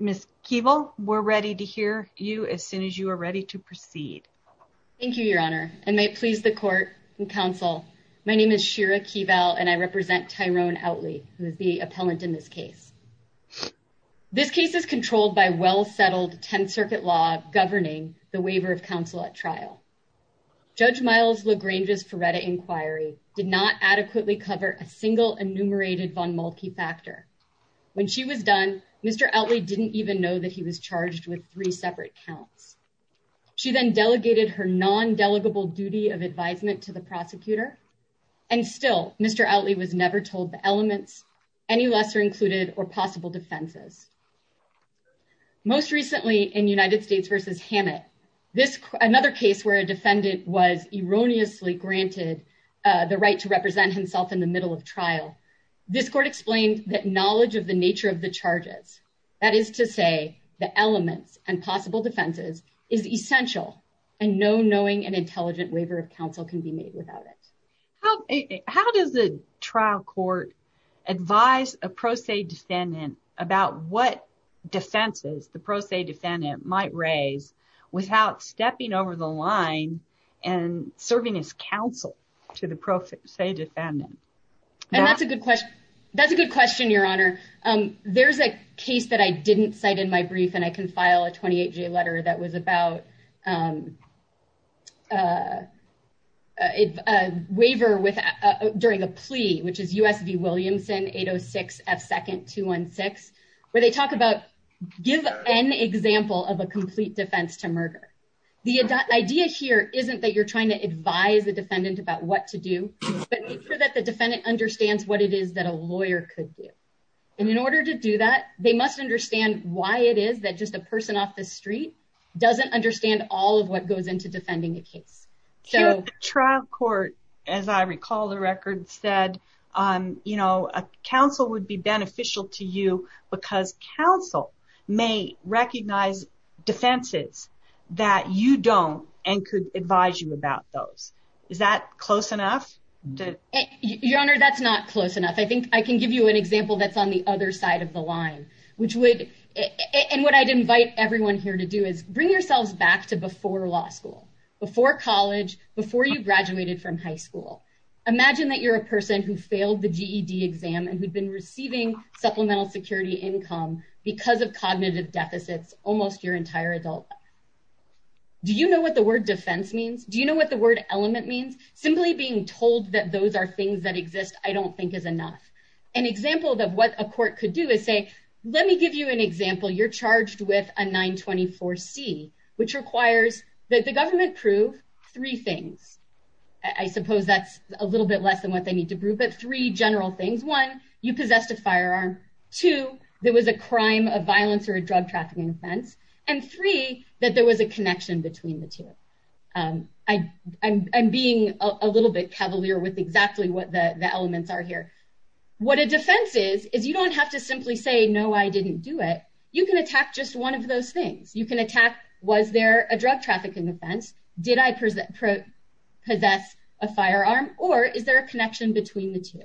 Ms. Keeble, we are ready to hear you as soon as you are ready to proceed. Thank you, Your Honor, and may it please the court and counsel, my name is Shira Keeble and I represent Tyrone Outley, who is the appellant in this case. This case is controlled by well settled 10th Circuit law governing the waiver of counsel at trial. Judge Miles LaGrange's Feretta inquiry did not adequately cover a single enumerated von Malky factor. When she was done, Mr. Outley didn't even know that he was charged with three separate counts. She then delegated her non-delegable duty of advisement to the prosecutor. And still, Mr. Outley was never told the elements, any lesser included or possible defenses. Most recently in United States v. Hammett, another case where a defendant was erroneously granted the right to represent himself in the middle of trial. This court explained that knowledge of the nature of the charges, that is to say the elements and possible defenses, is essential and no knowing and intelligent waiver of counsel can be made without it. How does the trial court advise a pro se defendant about what defenses the pro se defendant might raise without stepping over the line and serving as counsel to the pro se defendant? And that's a good question. That's a good question, Your Honor. There's a case that I didn't cite in my brief, and I can file a 28-J letter that was about a waiver during a plea, which is U.S. v. Williamson 806 F. 2nd 216, where they talk about give an example of a complete defense to murder. The idea here isn't that you're trying to advise the defendant about what to do, but that the defendant understands what it is that a lawyer could do. And in order to do that, they must understand why it is that just a person off the street doesn't understand all of what goes into defending a case. The trial court, as I recall the record said, counsel would be beneficial to you because counsel may recognize defenses that you don't and could advise you about those. Is that close enough? Your Honor, that's not close enough. I think I can give you an example that's on the other side of the line, and what I'd invite everyone here to do is bring yourselves back to before law school, before college, before you graduated from high school. Imagine that you're a person who failed the GED exam and who'd been receiving supplemental security income because of cognitive deficits almost your entire adult life. Do you know what the word defense means? Do you know what the word element means? Simply being told that those are things that exist, I don't think is enough. An example of what a court could do is say, let me give you an example. You're charged with a 924C, which requires that the government prove three things. I suppose that's a little bit less than what they need to prove, but three general things. One, you possessed a firearm. Two, there was a crime of violence or a drug trafficking offense. And three, that there was a connection between the two. I'm being a little bit cavalier with exactly what the elements are here. What a defense is, is you don't have to simply say, no, I didn't do it. You can attack just one of those things. You can attack, was there a drug trafficking offense? Did I possess a firearm? Or is there a connection between the two?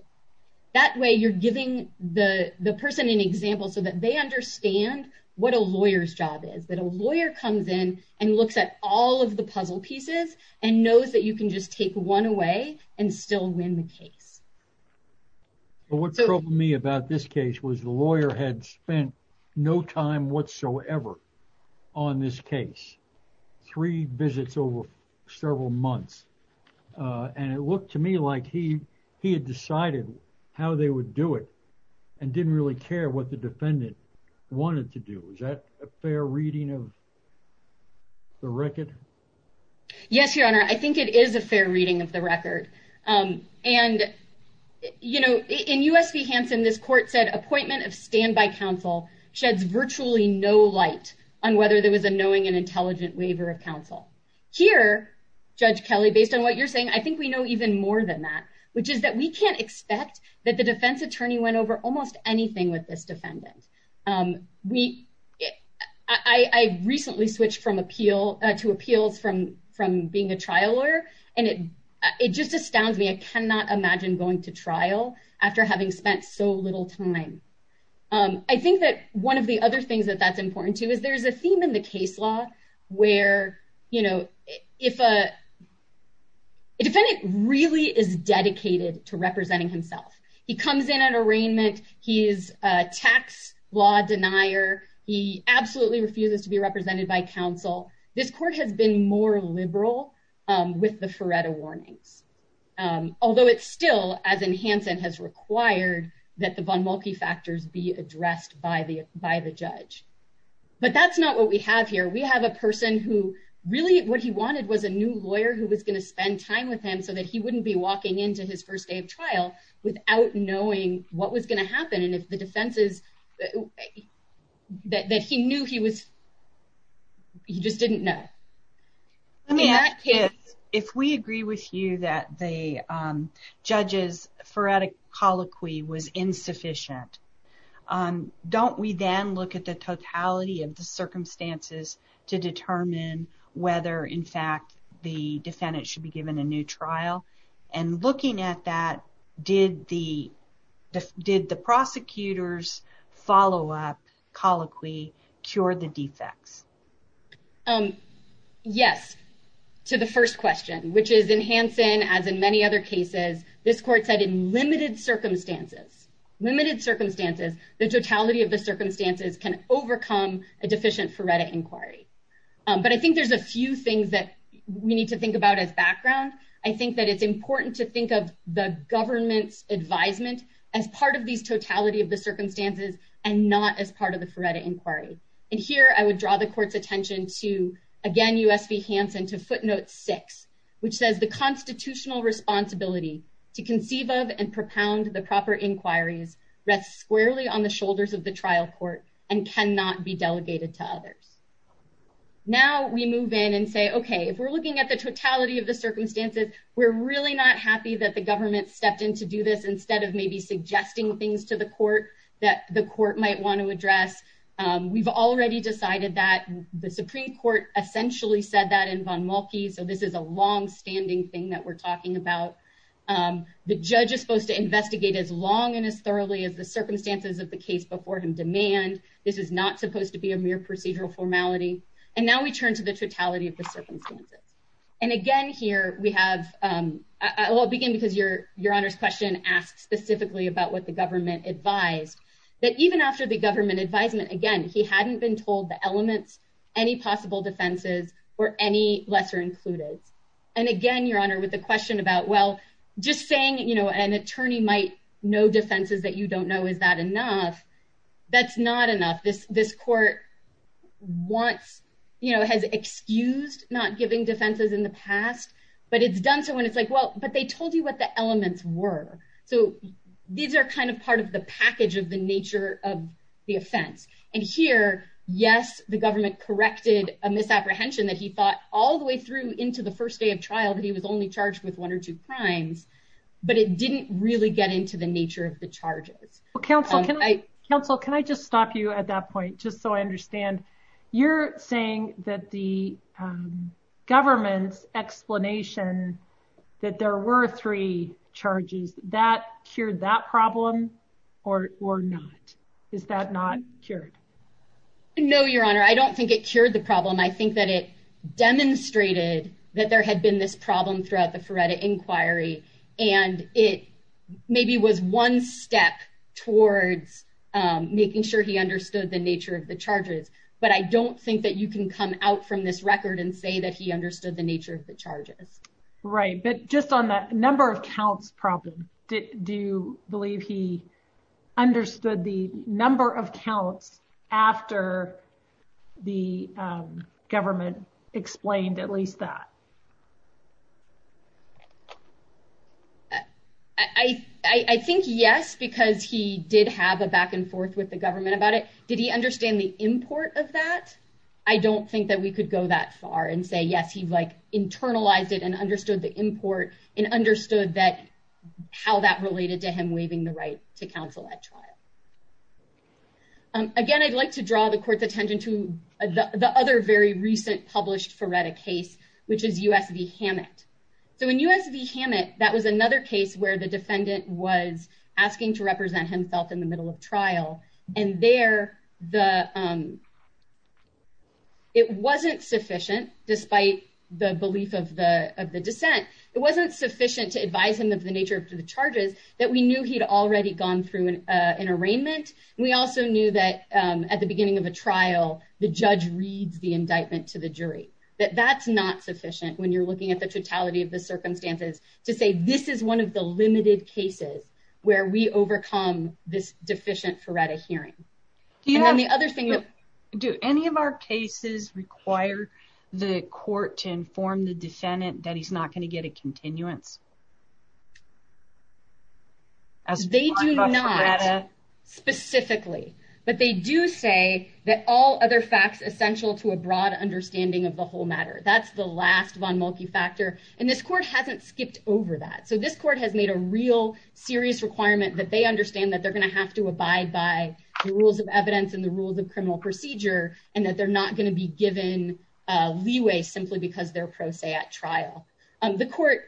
That way you're giving the person an example so that they understand what a lawyer's job is. That a lawyer comes in and looks at all of the puzzle pieces and knows that you can just take one away and still win the case. What troubled me about this case was the lawyer had spent no time whatsoever on this case. Three visits over several months. And it looked to me like he had decided how they would do it and didn't really care what the defendant wanted to do. Is that a fair reading of the record? Yes, Your Honor. I think it is a fair reading of the record. And, you know, in U.S. v. Hansen, this court said appointment of standby counsel sheds virtually no light on whether there was a knowing and intelligent waiver of counsel. Here, Judge Kelly, based on what you're saying, I think we know even more than that, which is that we can't expect that the defense attorney went over almost anything with this defendant. I recently switched to appeals from being a trial lawyer, and it just astounds me. I cannot imagine going to trial after having spent so little time. I think that one of the other things that that's important to is there's a theme in the case law where, you know, if a defendant really is dedicated to representing himself. He comes in at arraignment. He is a tax law denier. He absolutely refuses to be represented by counsel. This court has been more liberal with the Feretta warnings. Although it's still, as in Hansen, has required that the Von Muelke factors be addressed by the judge. But that's not what we have here. We have a person who really what he wanted was a new lawyer who was going to spend time with him so that he wouldn't be walking into his first day of trial without knowing what was going to happen. And if the defense is that he knew he was, he just didn't know. If we agree with you that the judge's Feretta colloquy was insufficient, don't we then look at the totality of the circumstances to determine whether, in fact, the defendant should be given a new trial? And looking at that, did the prosecutors follow up colloquy cure the defects? Yes, to the first question, which is in Hansen, as in many other cases, this court said in limited circumstances, limited circumstances, the totality of the circumstances can overcome a deficient Feretta inquiry. But I think there's a few things that we need to think about as background. I think that it's important to think of the government's advisement as part of these totality of the circumstances and not as part of the Feretta inquiry. And here I would draw the court's attention to, again, USP Hansen to footnote six, which says the constitutional responsibility to conceive of and propound the proper inquiries rests squarely on the shoulders of the trial court and cannot be delegated to others. Now we move in and say, OK, if we're looking at the totality of the circumstances, we're really not happy that the government stepped in to do this instead of maybe suggesting things to the court that the court might want to address. We've already decided that the Supreme Court essentially said that in Von Mulkey. So this is a long standing thing that we're talking about. The judge is supposed to investigate as long and as thoroughly as the circumstances of the case before him demand. This is not supposed to be a mere procedural formality. And now we turn to the totality of the circumstances. And again, here we have, I'll begin because Your Honor's question asks specifically about what the government advised, that even after the government advisement, again, he hadn't been told the elements, any possible defenses, or any lesser included. And again, Your Honor, with the question about, well, just saying an attorney might know defenses that you don't know, is that enough? That's not enough. This court has excused not giving defenses in the past, but it's done so when it's like, well, but they told you what the elements were. So these are kind of part of the package of the nature of the offense. And here, yes, the government corrected a misapprehension that he thought all the way through into the first day of trial that he was only charged with one or two crimes, but it didn't really get into the nature of the charges. Well, counsel, can I just stop you at that point, just so I understand? You're saying that the government's explanation that there were three charges, that cured that problem or not? Is that not cured? No, Your Honor, I don't think it cured the problem. I think that it demonstrated that there had been this problem throughout the Feretta inquiry, and it maybe was one step towards making sure he understood the nature of the charges. But I don't think that you can come out from this record and say that he understood the nature of the charges. Right. But just on that number of counts problem, do you believe he understood the number of counts after the government explained at least that? I think yes, because he did have a back and forth with the government about it. Did he understand the import of that? I don't think that we could go that far and say, yes, he internalized it and understood the import and understood how that related to him waiving the right to counsel at trial. Again, I'd like to draw the court's attention to the other very recent published Feretta case, which is U.S. v. Hammett. So in U.S. v. Hammett, that was another case where the defendant was asking to represent himself in the middle of trial. And there, it wasn't sufficient, despite the belief of the dissent, it wasn't sufficient to advise him of the nature of the charges that we knew he'd already gone through an arraignment. We also knew that at the beginning of a trial, the judge reads the indictment to the jury, that that's not sufficient when you're looking at the totality of the circumstances to say this is one of the limited cases where we overcome this deficient Feretta hearing. Do any of our cases require the court to inform the defendant that he's not going to get a continuance? They do not, specifically. But they do say that all other facts essential to a broad understanding of the whole matter. That's the last von Muelke factor. And this court hasn't skipped over that. So this court has made a real serious requirement that they understand that they're going to have to abide by the rules of evidence and the rules of criminal procedure, and that they're not going to be given leeway simply because they're pro se at trial. The court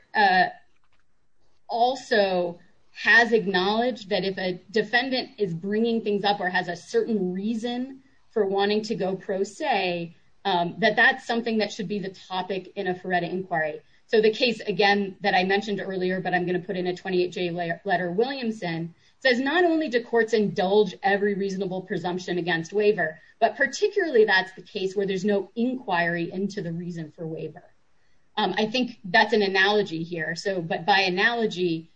also has acknowledged that if a defendant is bringing things up or has a certain reason for wanting to go pro se, that that's something that should be the topic in a Feretta inquiry. So the case, again, that I mentioned earlier, but I'm going to put in a 28-J letter, Williamson, says not only do courts indulge every reasonable presumption against waiver, but particularly that's the case where there's no inquiry into the reason for waiver. I think that's an analogy here. But by analogy,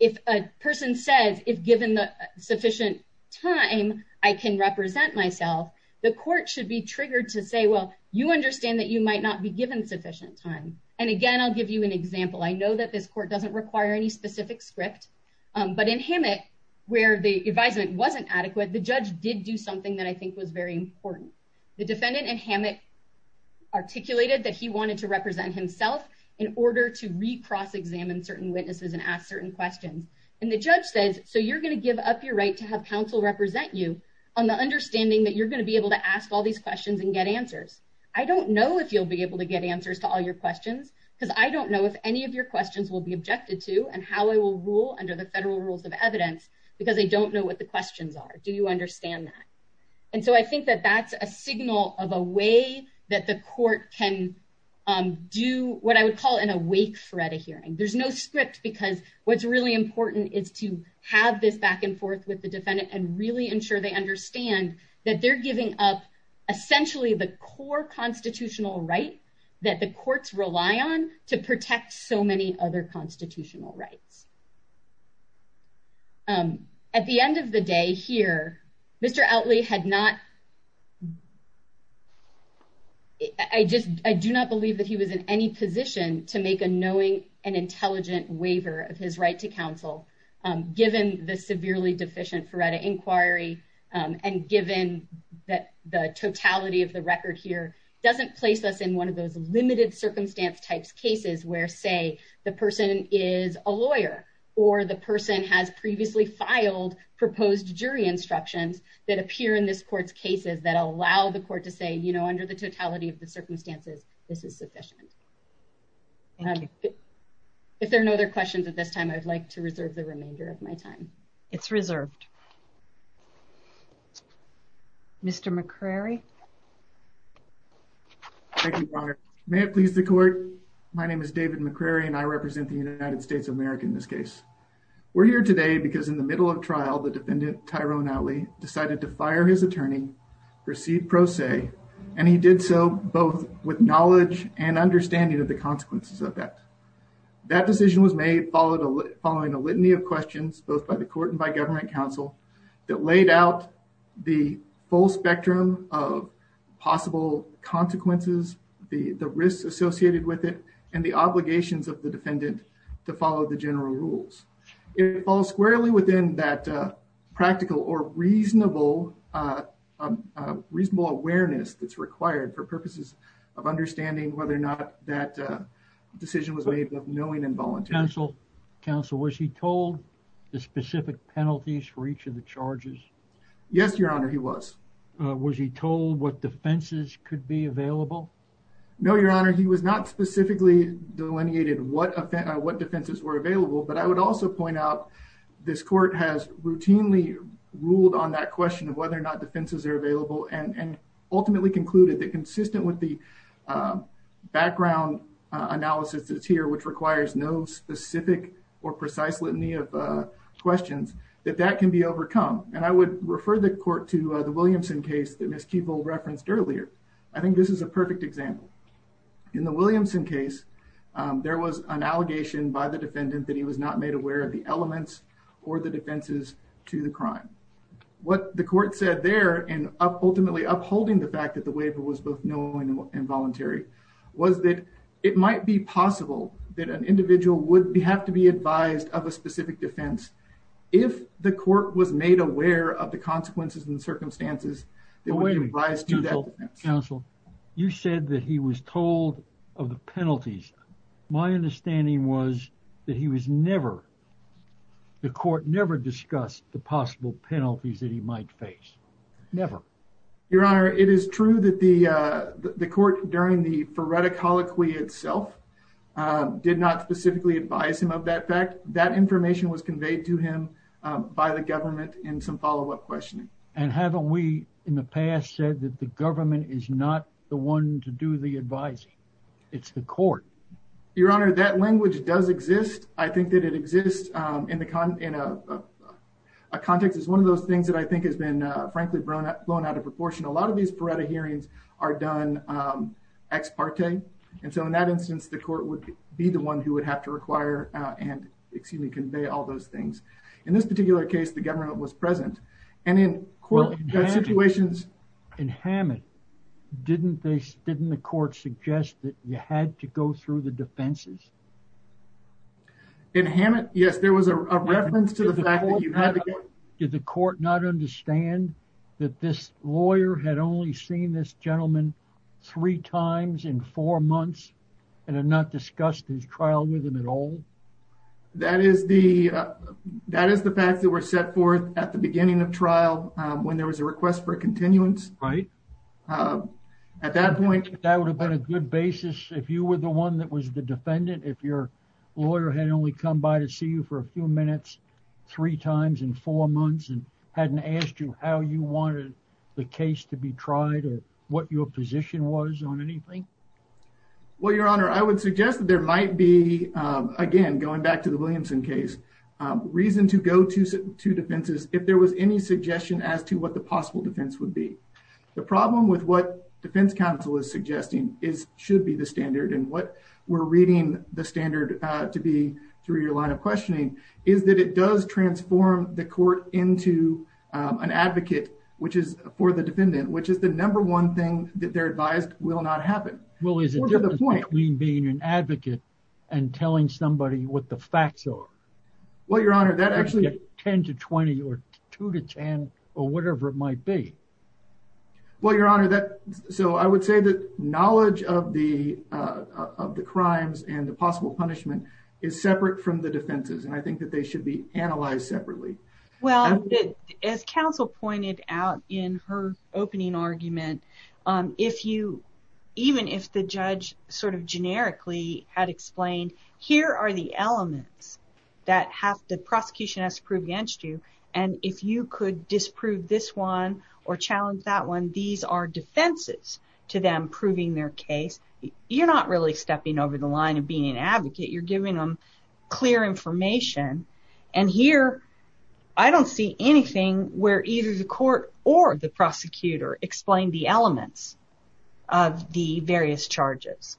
if a person says, if given sufficient time, I can represent myself, the court should be triggered to say, well, you understand that you might not be given sufficient time. And again, I'll give you an example. I know that this court doesn't require any specific script. But in Hammett, where the advisement wasn't adequate, the judge did do something that I think was very important. The defendant in Hammett articulated that he wanted to represent himself in order to recross-examine certain witnesses and ask certain questions. And the judge says, so you're going to give up your right to have counsel represent you on the understanding that you're going to be able to ask all these questions and get answers. I don't know if you'll be able to get answers to all your questions, because I don't know if any of your questions will be objected to and how I will rule under the federal rules of evidence, because I don't know what the questions are. Do you understand that? And so I think that that's a signal of a way that the court can do what I would call in a wake for at a hearing. There's no script, because what's really important is to have this back and forth with the defendant and really ensure they understand that they're giving up essentially the core constitutional right that the courts rely on to protect so many other constitutional rights. At the end of the day here, Mr. Outley had not – I do not believe that he was in any position to make a knowing and intelligent waiver of his right to counsel, given the severely deficient Feretta Inquiry and given that the totality of the record here doesn't place us in one of those limited circumstance-type cases where, say, the person is a lawyer. Or the person has previously filed proposed jury instructions that appear in this court's cases that allow the court to say, you know, under the totality of the circumstances, this is sufficient. If there are no other questions at this time, I would like to reserve the remainder of my time. It's reserved. Mr. McCrary? Thank you, Your Honor. May it please the court, my name is David McCrary, and I represent the United States of America in this case. We're here today because in the middle of trial, the defendant, Tyrone Outley, decided to fire his attorney, proceed pro se, and he did so both with knowledge and understanding of the consequences of that. That decision was made following a litany of questions, both by the court and by government counsel, that laid out the full spectrum of possible consequences, the risks associated with it, and the obligations of the defendant to follow the general rules. It falls squarely within that practical or reasonable awareness that's required for purposes of understanding whether or not that decision was made of knowing and volunteering. Counsel, was he told the specific penalties for each of the charges? Yes, Your Honor, he was. Was he told what defenses could be available? No, Your Honor, he was not specifically delineated what defenses were available, but I would also point out this court has routinely ruled on that question of whether or not defenses are available and ultimately concluded that consistent with the background analysis that's here, which requires no specific or precise litany of questions, that that can be overcome. And I would refer the court to the Williamson case that Ms. Keeble referenced earlier. I think this is a perfect example. In the Williamson case, there was an allegation by the defendant that he was not made aware of the elements or the defenses to the crime. What the court said there, and ultimately upholding the fact that the waiver was both knowing and voluntary, was that it might be possible that an individual would have to be advised of a specific defense if the court was made aware of the consequences and circumstances that would be advised to do that defense. Counsel, you said that he was told of the penalties. My understanding was that he was never, the court never discussed the possible penalties that he might face. Never. Your Honor, it is true that the court during the phoretic holoquy itself did not specifically advise him of that fact. That information was conveyed to him by the government in some follow up questioning. And haven't we in the past said that the government is not the one to do the advising? It's the court. Your Honor, that language does exist. I think that it exists in a context. It's one of those things that I think has been, frankly, blown out of proportion. A lot of these phoretic hearings are done ex parte. And so in that instance, the court would be the one who would have to require and convey all those things. In this particular case, the government was present and in court situations. In Hammett, didn't they, didn't the court suggest that you had to go through the defenses? In Hammett, yes, there was a reference to the fact that you had to go through the defenses. Did the court not understand that this lawyer had only seen this gentleman three times in four months and had not discussed his trial with him at all? That is the that is the fact that were set forth at the beginning of trial when there was a request for continuance. Right. At that point, that would have been a good basis if you were the one that was the defendant. If your lawyer had only come by to see you for a few minutes, three times in four months and hadn't asked you how you wanted the case to be tried or what your position was on anything. Well, Your Honor, I would suggest that there might be, again, going back to the Williamson case, reason to go to two defenses if there was any suggestion as to what the possible defense would be. The problem with what defense counsel is suggesting is should be the standard and what we're reading the standard to be through your line of questioning is that it does transform the court into an advocate, which is for the defendant, which is the number one thing that they're advised will not happen. Well, is it between being an advocate and telling somebody what the facts are? Well, Your Honor, that actually 10 to 20 or two to 10 or whatever it might be. Well, Your Honor, that so I would say that knowledge of the of the crimes and the possible punishment is separate from the defenses, and I think that they should be analyzed separately. Well, as counsel pointed out in her opening argument, if you even if the judge sort of generically had explained, here are the elements that have the prosecution has to prove against you. And if you could disprove this one or challenge that one, these are defenses to them proving their case. You're not really stepping over the line of being an advocate. You're giving them clear information. And here I don't see anything where either the court or the prosecutor explained the elements of the various charges.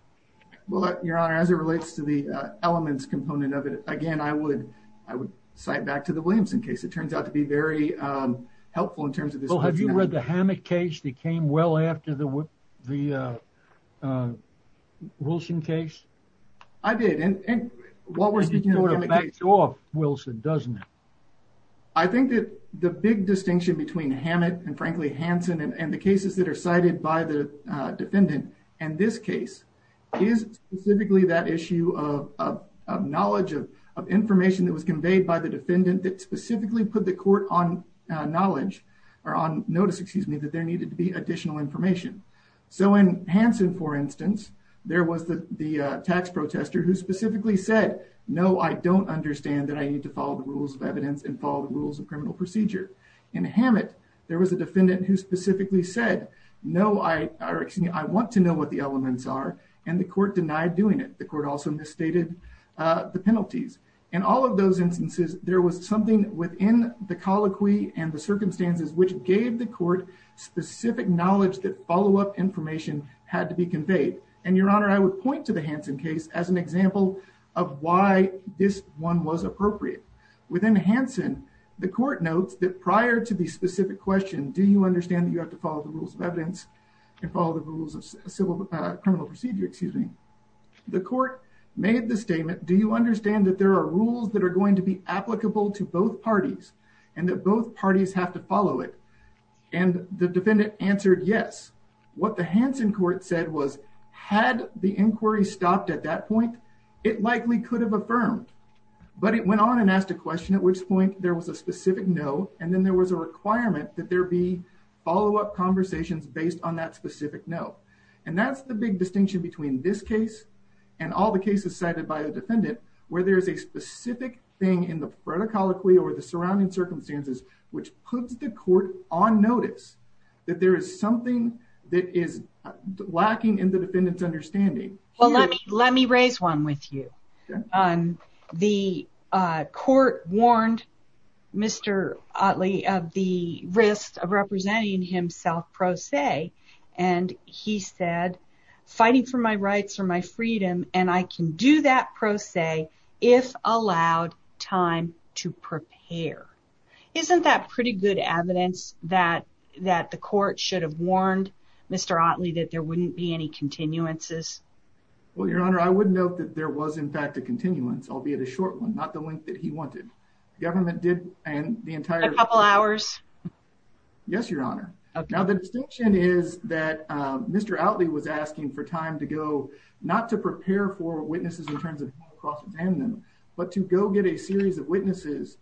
Well, Your Honor, as it relates to the elements component of it again, I would I would cite back to the Williamson case. It turns out to be very helpful in terms of this. Have you read the hammock case that came well after the the Wilson case? I did. And while we're speaking about it off Wilson, doesn't it? I think that the big distinction between Hammett and frankly Hansen and the cases that are cited by the defendant and this case is specifically that issue of knowledge of of information that was conveyed by the defendant that specifically put the court on knowledge or on notice. Excuse me, that there needed to be additional information. So in Hansen, for instance, there was the the tax protester who specifically said, no, I don't understand that. I need to follow the rules of evidence and follow the rules of criminal procedure. In Hammett, there was a defendant who specifically said, no, I want to know what the elements are. And the court denied doing it. The court also misstated the penalties and all of those instances. There was something within the colloquy and the circumstances which gave the court specific knowledge that follow up information had to be conveyed. And, Your Honor, I would point to the Hansen case as an example of why this one was appropriate. Within Hansen, the court notes that prior to the specific question, do you understand that you have to follow the rules of evidence and follow the rules of civil criminal procedure? Excuse me. The court made the statement. Do you understand that there are rules that are going to be applicable to both parties and that both parties have to follow it? And the defendant answered, yes. What the Hansen court said was had the inquiry stopped at that point, it likely could have affirmed. But it went on and asked a question at which point there was a specific no. And then there was a requirement that there be follow up conversations based on that specific note. And that's the big distinction between this case and all the cases cited by the defendant where there is a specific thing in the protocol or the surrounding circumstances which puts the court on notice that there is something that is lacking in the defendant's understanding. Let me raise one with you. The court warned Mr. Otley of the risk of representing himself pro se. And he said, fighting for my rights or my freedom, and I can do that pro se if allowed time to prepare. Isn't that pretty good evidence that that the court should have warned Mr. Otley that there wouldn't be any continuances? Well, Your Honor, I would note that there was, in fact, a continuance, albeit a short one, not the length that he wanted. Government did and the entire couple hours. Yes, Your Honor. Now, the distinction is that Mr. Otley was asking for time to go not to prepare for witnesses in terms of cross-examining them, but to go get a series of witnesses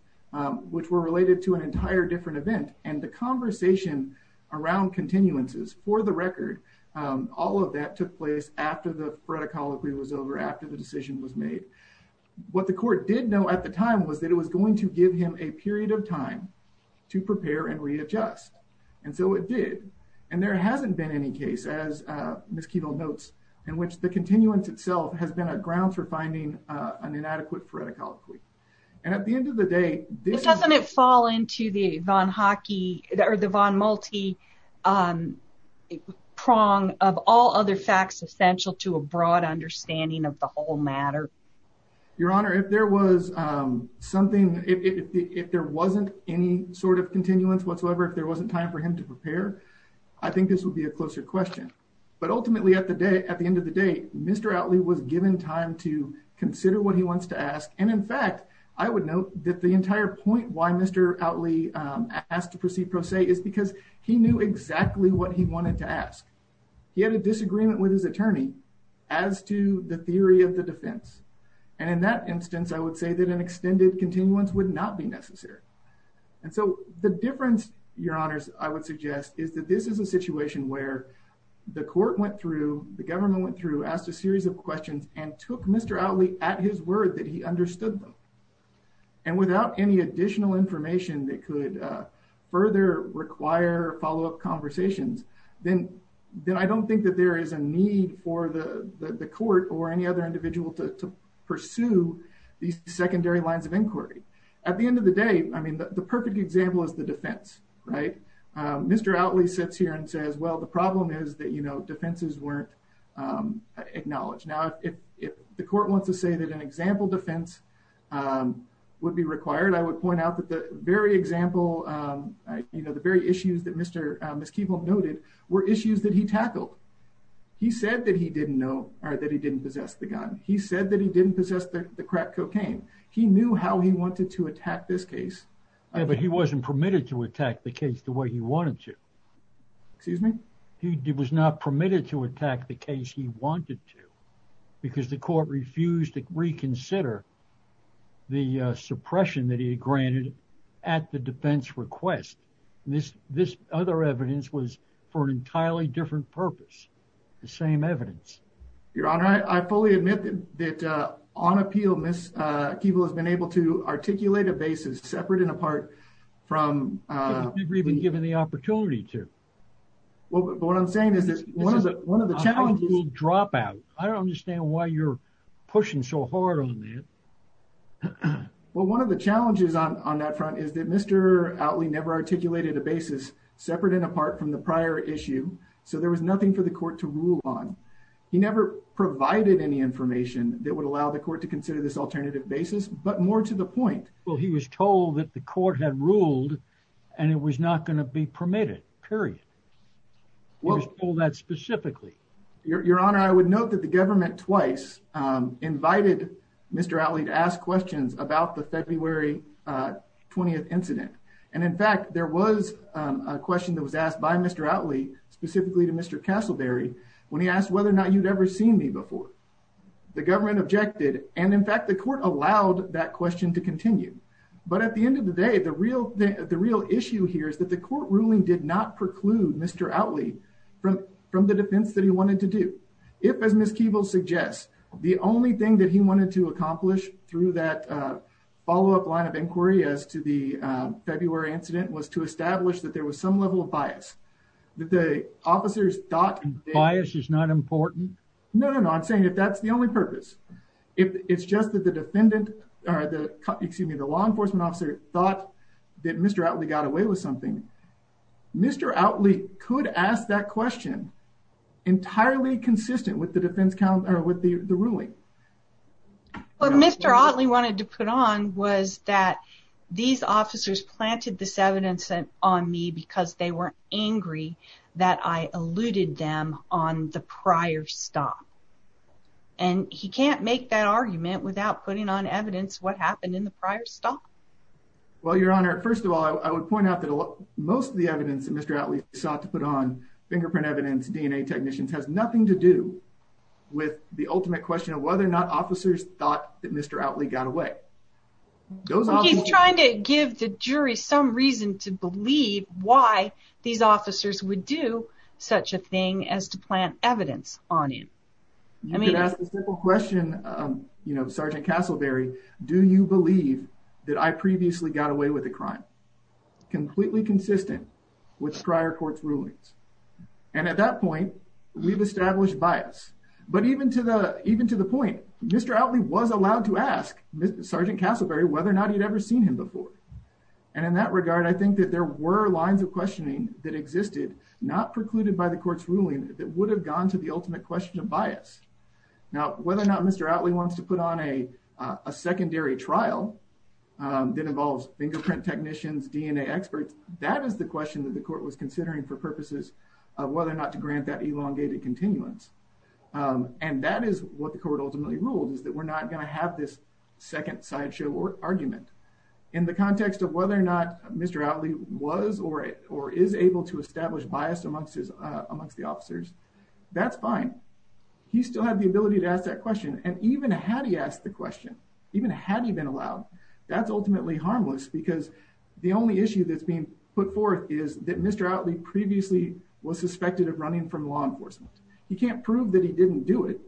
which were related to an entire different event. And the conversation around continuances for the record, all of that took place after the foretocol was over, after the decision was made. What the court did know at the time was that it was going to give him a period of time to prepare and readjust. And so it did. And there hasn't been any case, as Ms. Keeville notes, in which the continuance itself has been a ground for finding an inadequate foretocol. And at the end of the day, this doesn't fall into the Von Hockey or the Von Malte prong of all other facts essential to a broad understanding of the whole matter. Your Honor, if there was something, if there wasn't any sort of continuance whatsoever, if there wasn't time for him to prepare, I think this would be a closer question. But ultimately, at the end of the day, Mr. Otley was given time to consider what he wants to ask. And in fact, I would note that the entire point why Mr. Otley asked to proceed pro se is because he knew exactly what he wanted to ask. He had a disagreement with his attorney as to the theory of the defense. And in that instance, I would say that an extended continuance would not be necessary. And so the difference, Your Honors, I would suggest is that this is a situation where the court went through, the government went through, asked a series of questions and took Mr. Otley at his word that he understood them. And without any additional information that could further require follow up conversations, then I don't think that there is a need for the court or any other individual to pursue these secondary lines of inquiry. At the end of the day, I mean, the perfect example is the defense, right? Mr. Otley sits here and says, well, the problem is that, you know, defenses weren't acknowledged. Now, if the court wants to say that an example defense would be required, I would point out that the very example, you know, the very issues that Mr. Miskiewicz noted were issues that he tackled. He said that he didn't know or that he didn't possess the gun. He said that he didn't possess the crack cocaine. He knew how he wanted to attack this case. Yeah, but he wasn't permitted to attack the case the way he wanted to. Excuse me? He was not permitted to attack the case he wanted to because the court refused to reconsider the suppression that he granted at the defense request. This this other evidence was for an entirely different purpose. The same evidence. Your Honor, I fully admit that on appeal, Miskiewicz has been able to articulate a basis separate and apart from. We've been given the opportunity to. Well, what I'm saying is that one of the one of the challenges drop out. I don't understand why you're pushing so hard on that. Well, one of the challenges on that front is that Mr. Otley never articulated a basis separate and apart from the prior issue. So there was nothing for the court to rule on. He never provided any information that would allow the court to consider this alternative basis, but more to the point. Well, he was told that the court had ruled and it was not going to be permitted, period. Well, all that specifically. Your Honor, I would note that the government twice invited Mr. Otley to ask questions about the February 20th incident. And in fact, there was a question that was asked by Mr. Otley specifically to Mr. Castleberry when he asked whether or not you'd ever seen me before. The government objected. And in fact, the court allowed that question to continue. But at the end of the day, the real the real issue here is that the court ruling did not preclude Mr. Otley from from the defense that he wanted to do. If, as Ms. Keeble suggests, the only thing that he wanted to accomplish through that follow up line of inquiry as to the February incident was to establish that there was some level of bias that the officers thought. And bias is not important. No, no, no. I'm saying if that's the only purpose, if it's just that the defendant or the excuse me, the law enforcement officer thought that Mr. Otley got away with something. Mr. Otley could ask that question entirely consistent with the defense count or with the ruling. But Mr. Otley wanted to put on was that these officers planted this evidence on me because they were angry that I alluded them on the prior stop. And he can't make that argument without putting on evidence what happened in the prior stop. Well, Your Honor, first of all, I would point out that most of the evidence that Mr. Otley sought to put on fingerprint evidence, DNA technicians has nothing to do with the ultimate question of whether or not officers thought that Mr. Otley got away. He's trying to give the jury some reason to believe why these officers would do such a thing as to plant evidence on you. I mean, that's a simple question. You know, Sergeant Castleberry, do you believe that I previously got away with a crime completely consistent with prior court's rulings? And at that point, we've established bias. But even to the even to the point, Mr. Otley was allowed to ask Sergeant Castleberry whether or not he'd ever seen him before. And in that regard, I think that there were lines of questioning that existed, not precluded by the court's ruling that would have gone to the ultimate question of bias. Now, whether or not Mr. Otley wants to put on a secondary trial that involves fingerprint technicians, DNA experts. That is the question that the court was considering for purposes of whether or not to grant that elongated continuance. And that is what the court ultimately ruled is that we're not going to have this second sideshow argument. In the context of whether or not Mr. Otley was or is able to establish bias amongst the officers, that's fine. He still had the ability to ask that question. And even had he asked the question, even had he been allowed, that's ultimately harmless because the only issue that's being put forth is that Mr. Otley previously was suspected of running from law enforcement. He can't prove that he didn't do it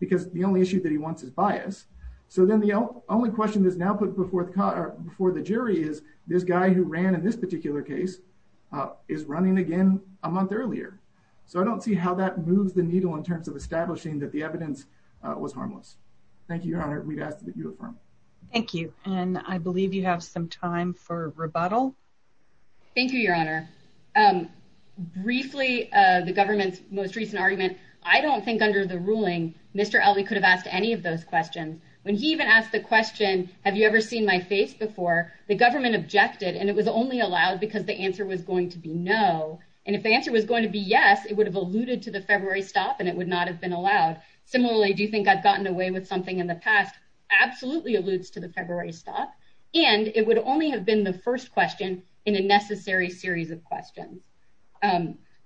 because the only issue that he wants is bias. So then the only question that's now put before the jury is this guy who ran in this particular case is running again a month earlier. So I don't see how that moves the needle in terms of establishing that the evidence was harmless. Thank you, Your Honor. We've asked that you affirm. Thank you. And I believe you have some time for rebuttal. Thank you, Your Honor. Briefly, the government's most recent argument, I don't think under the ruling, Mr. Otley could have asked any of those questions when he even asked the question, have you ever seen my face before? The government objected and it was only allowed because the answer was going to be no. And if the answer was going to be yes, it would have alluded to the February stop and it would not have been allowed. Similarly, do you think I've gotten away with something in the past? Absolutely. Alludes to the February stop. And it would only have been the first question in a necessary series of questions.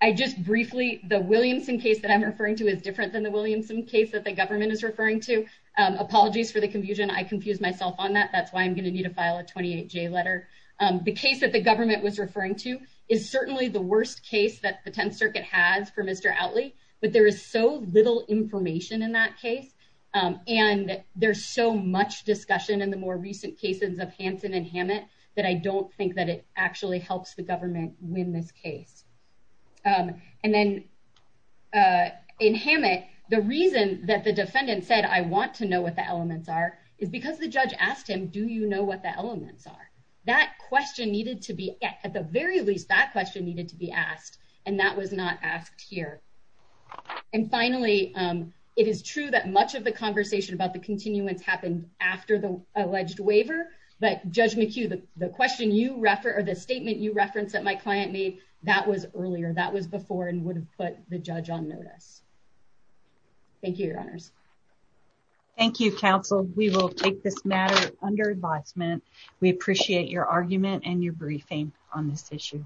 I just briefly the Williamson case that I'm referring to is different than the Williamson case that the government is referring to. Apologies for the confusion. I confused myself on that. That's why I'm going to need to file a 28 J letter. The case that the government was referring to is certainly the worst case that the 10th Circuit has for Mr. Otley. But there is so little information in that case. And there's so much discussion in the more recent cases of Hansen and Hammett that I don't think that it actually helps the government win this case. And then in Hammett, the reason that the defendant said, I want to know what the elements are, is because the judge asked him, do you know what the elements are? That question needed to be at the very least, that question needed to be asked, and that was not asked here. And finally, it is true that much of the conversation about the continuance happened after the alleged waiver. But Judge McHugh, the question you refer or the statement you reference that my client made, that was earlier. That was before and would have put the judge on notice. Thank you, Your Honors. Thank you, Counsel. We will take this matter under advisement. We appreciate your argument and your briefing on this issue.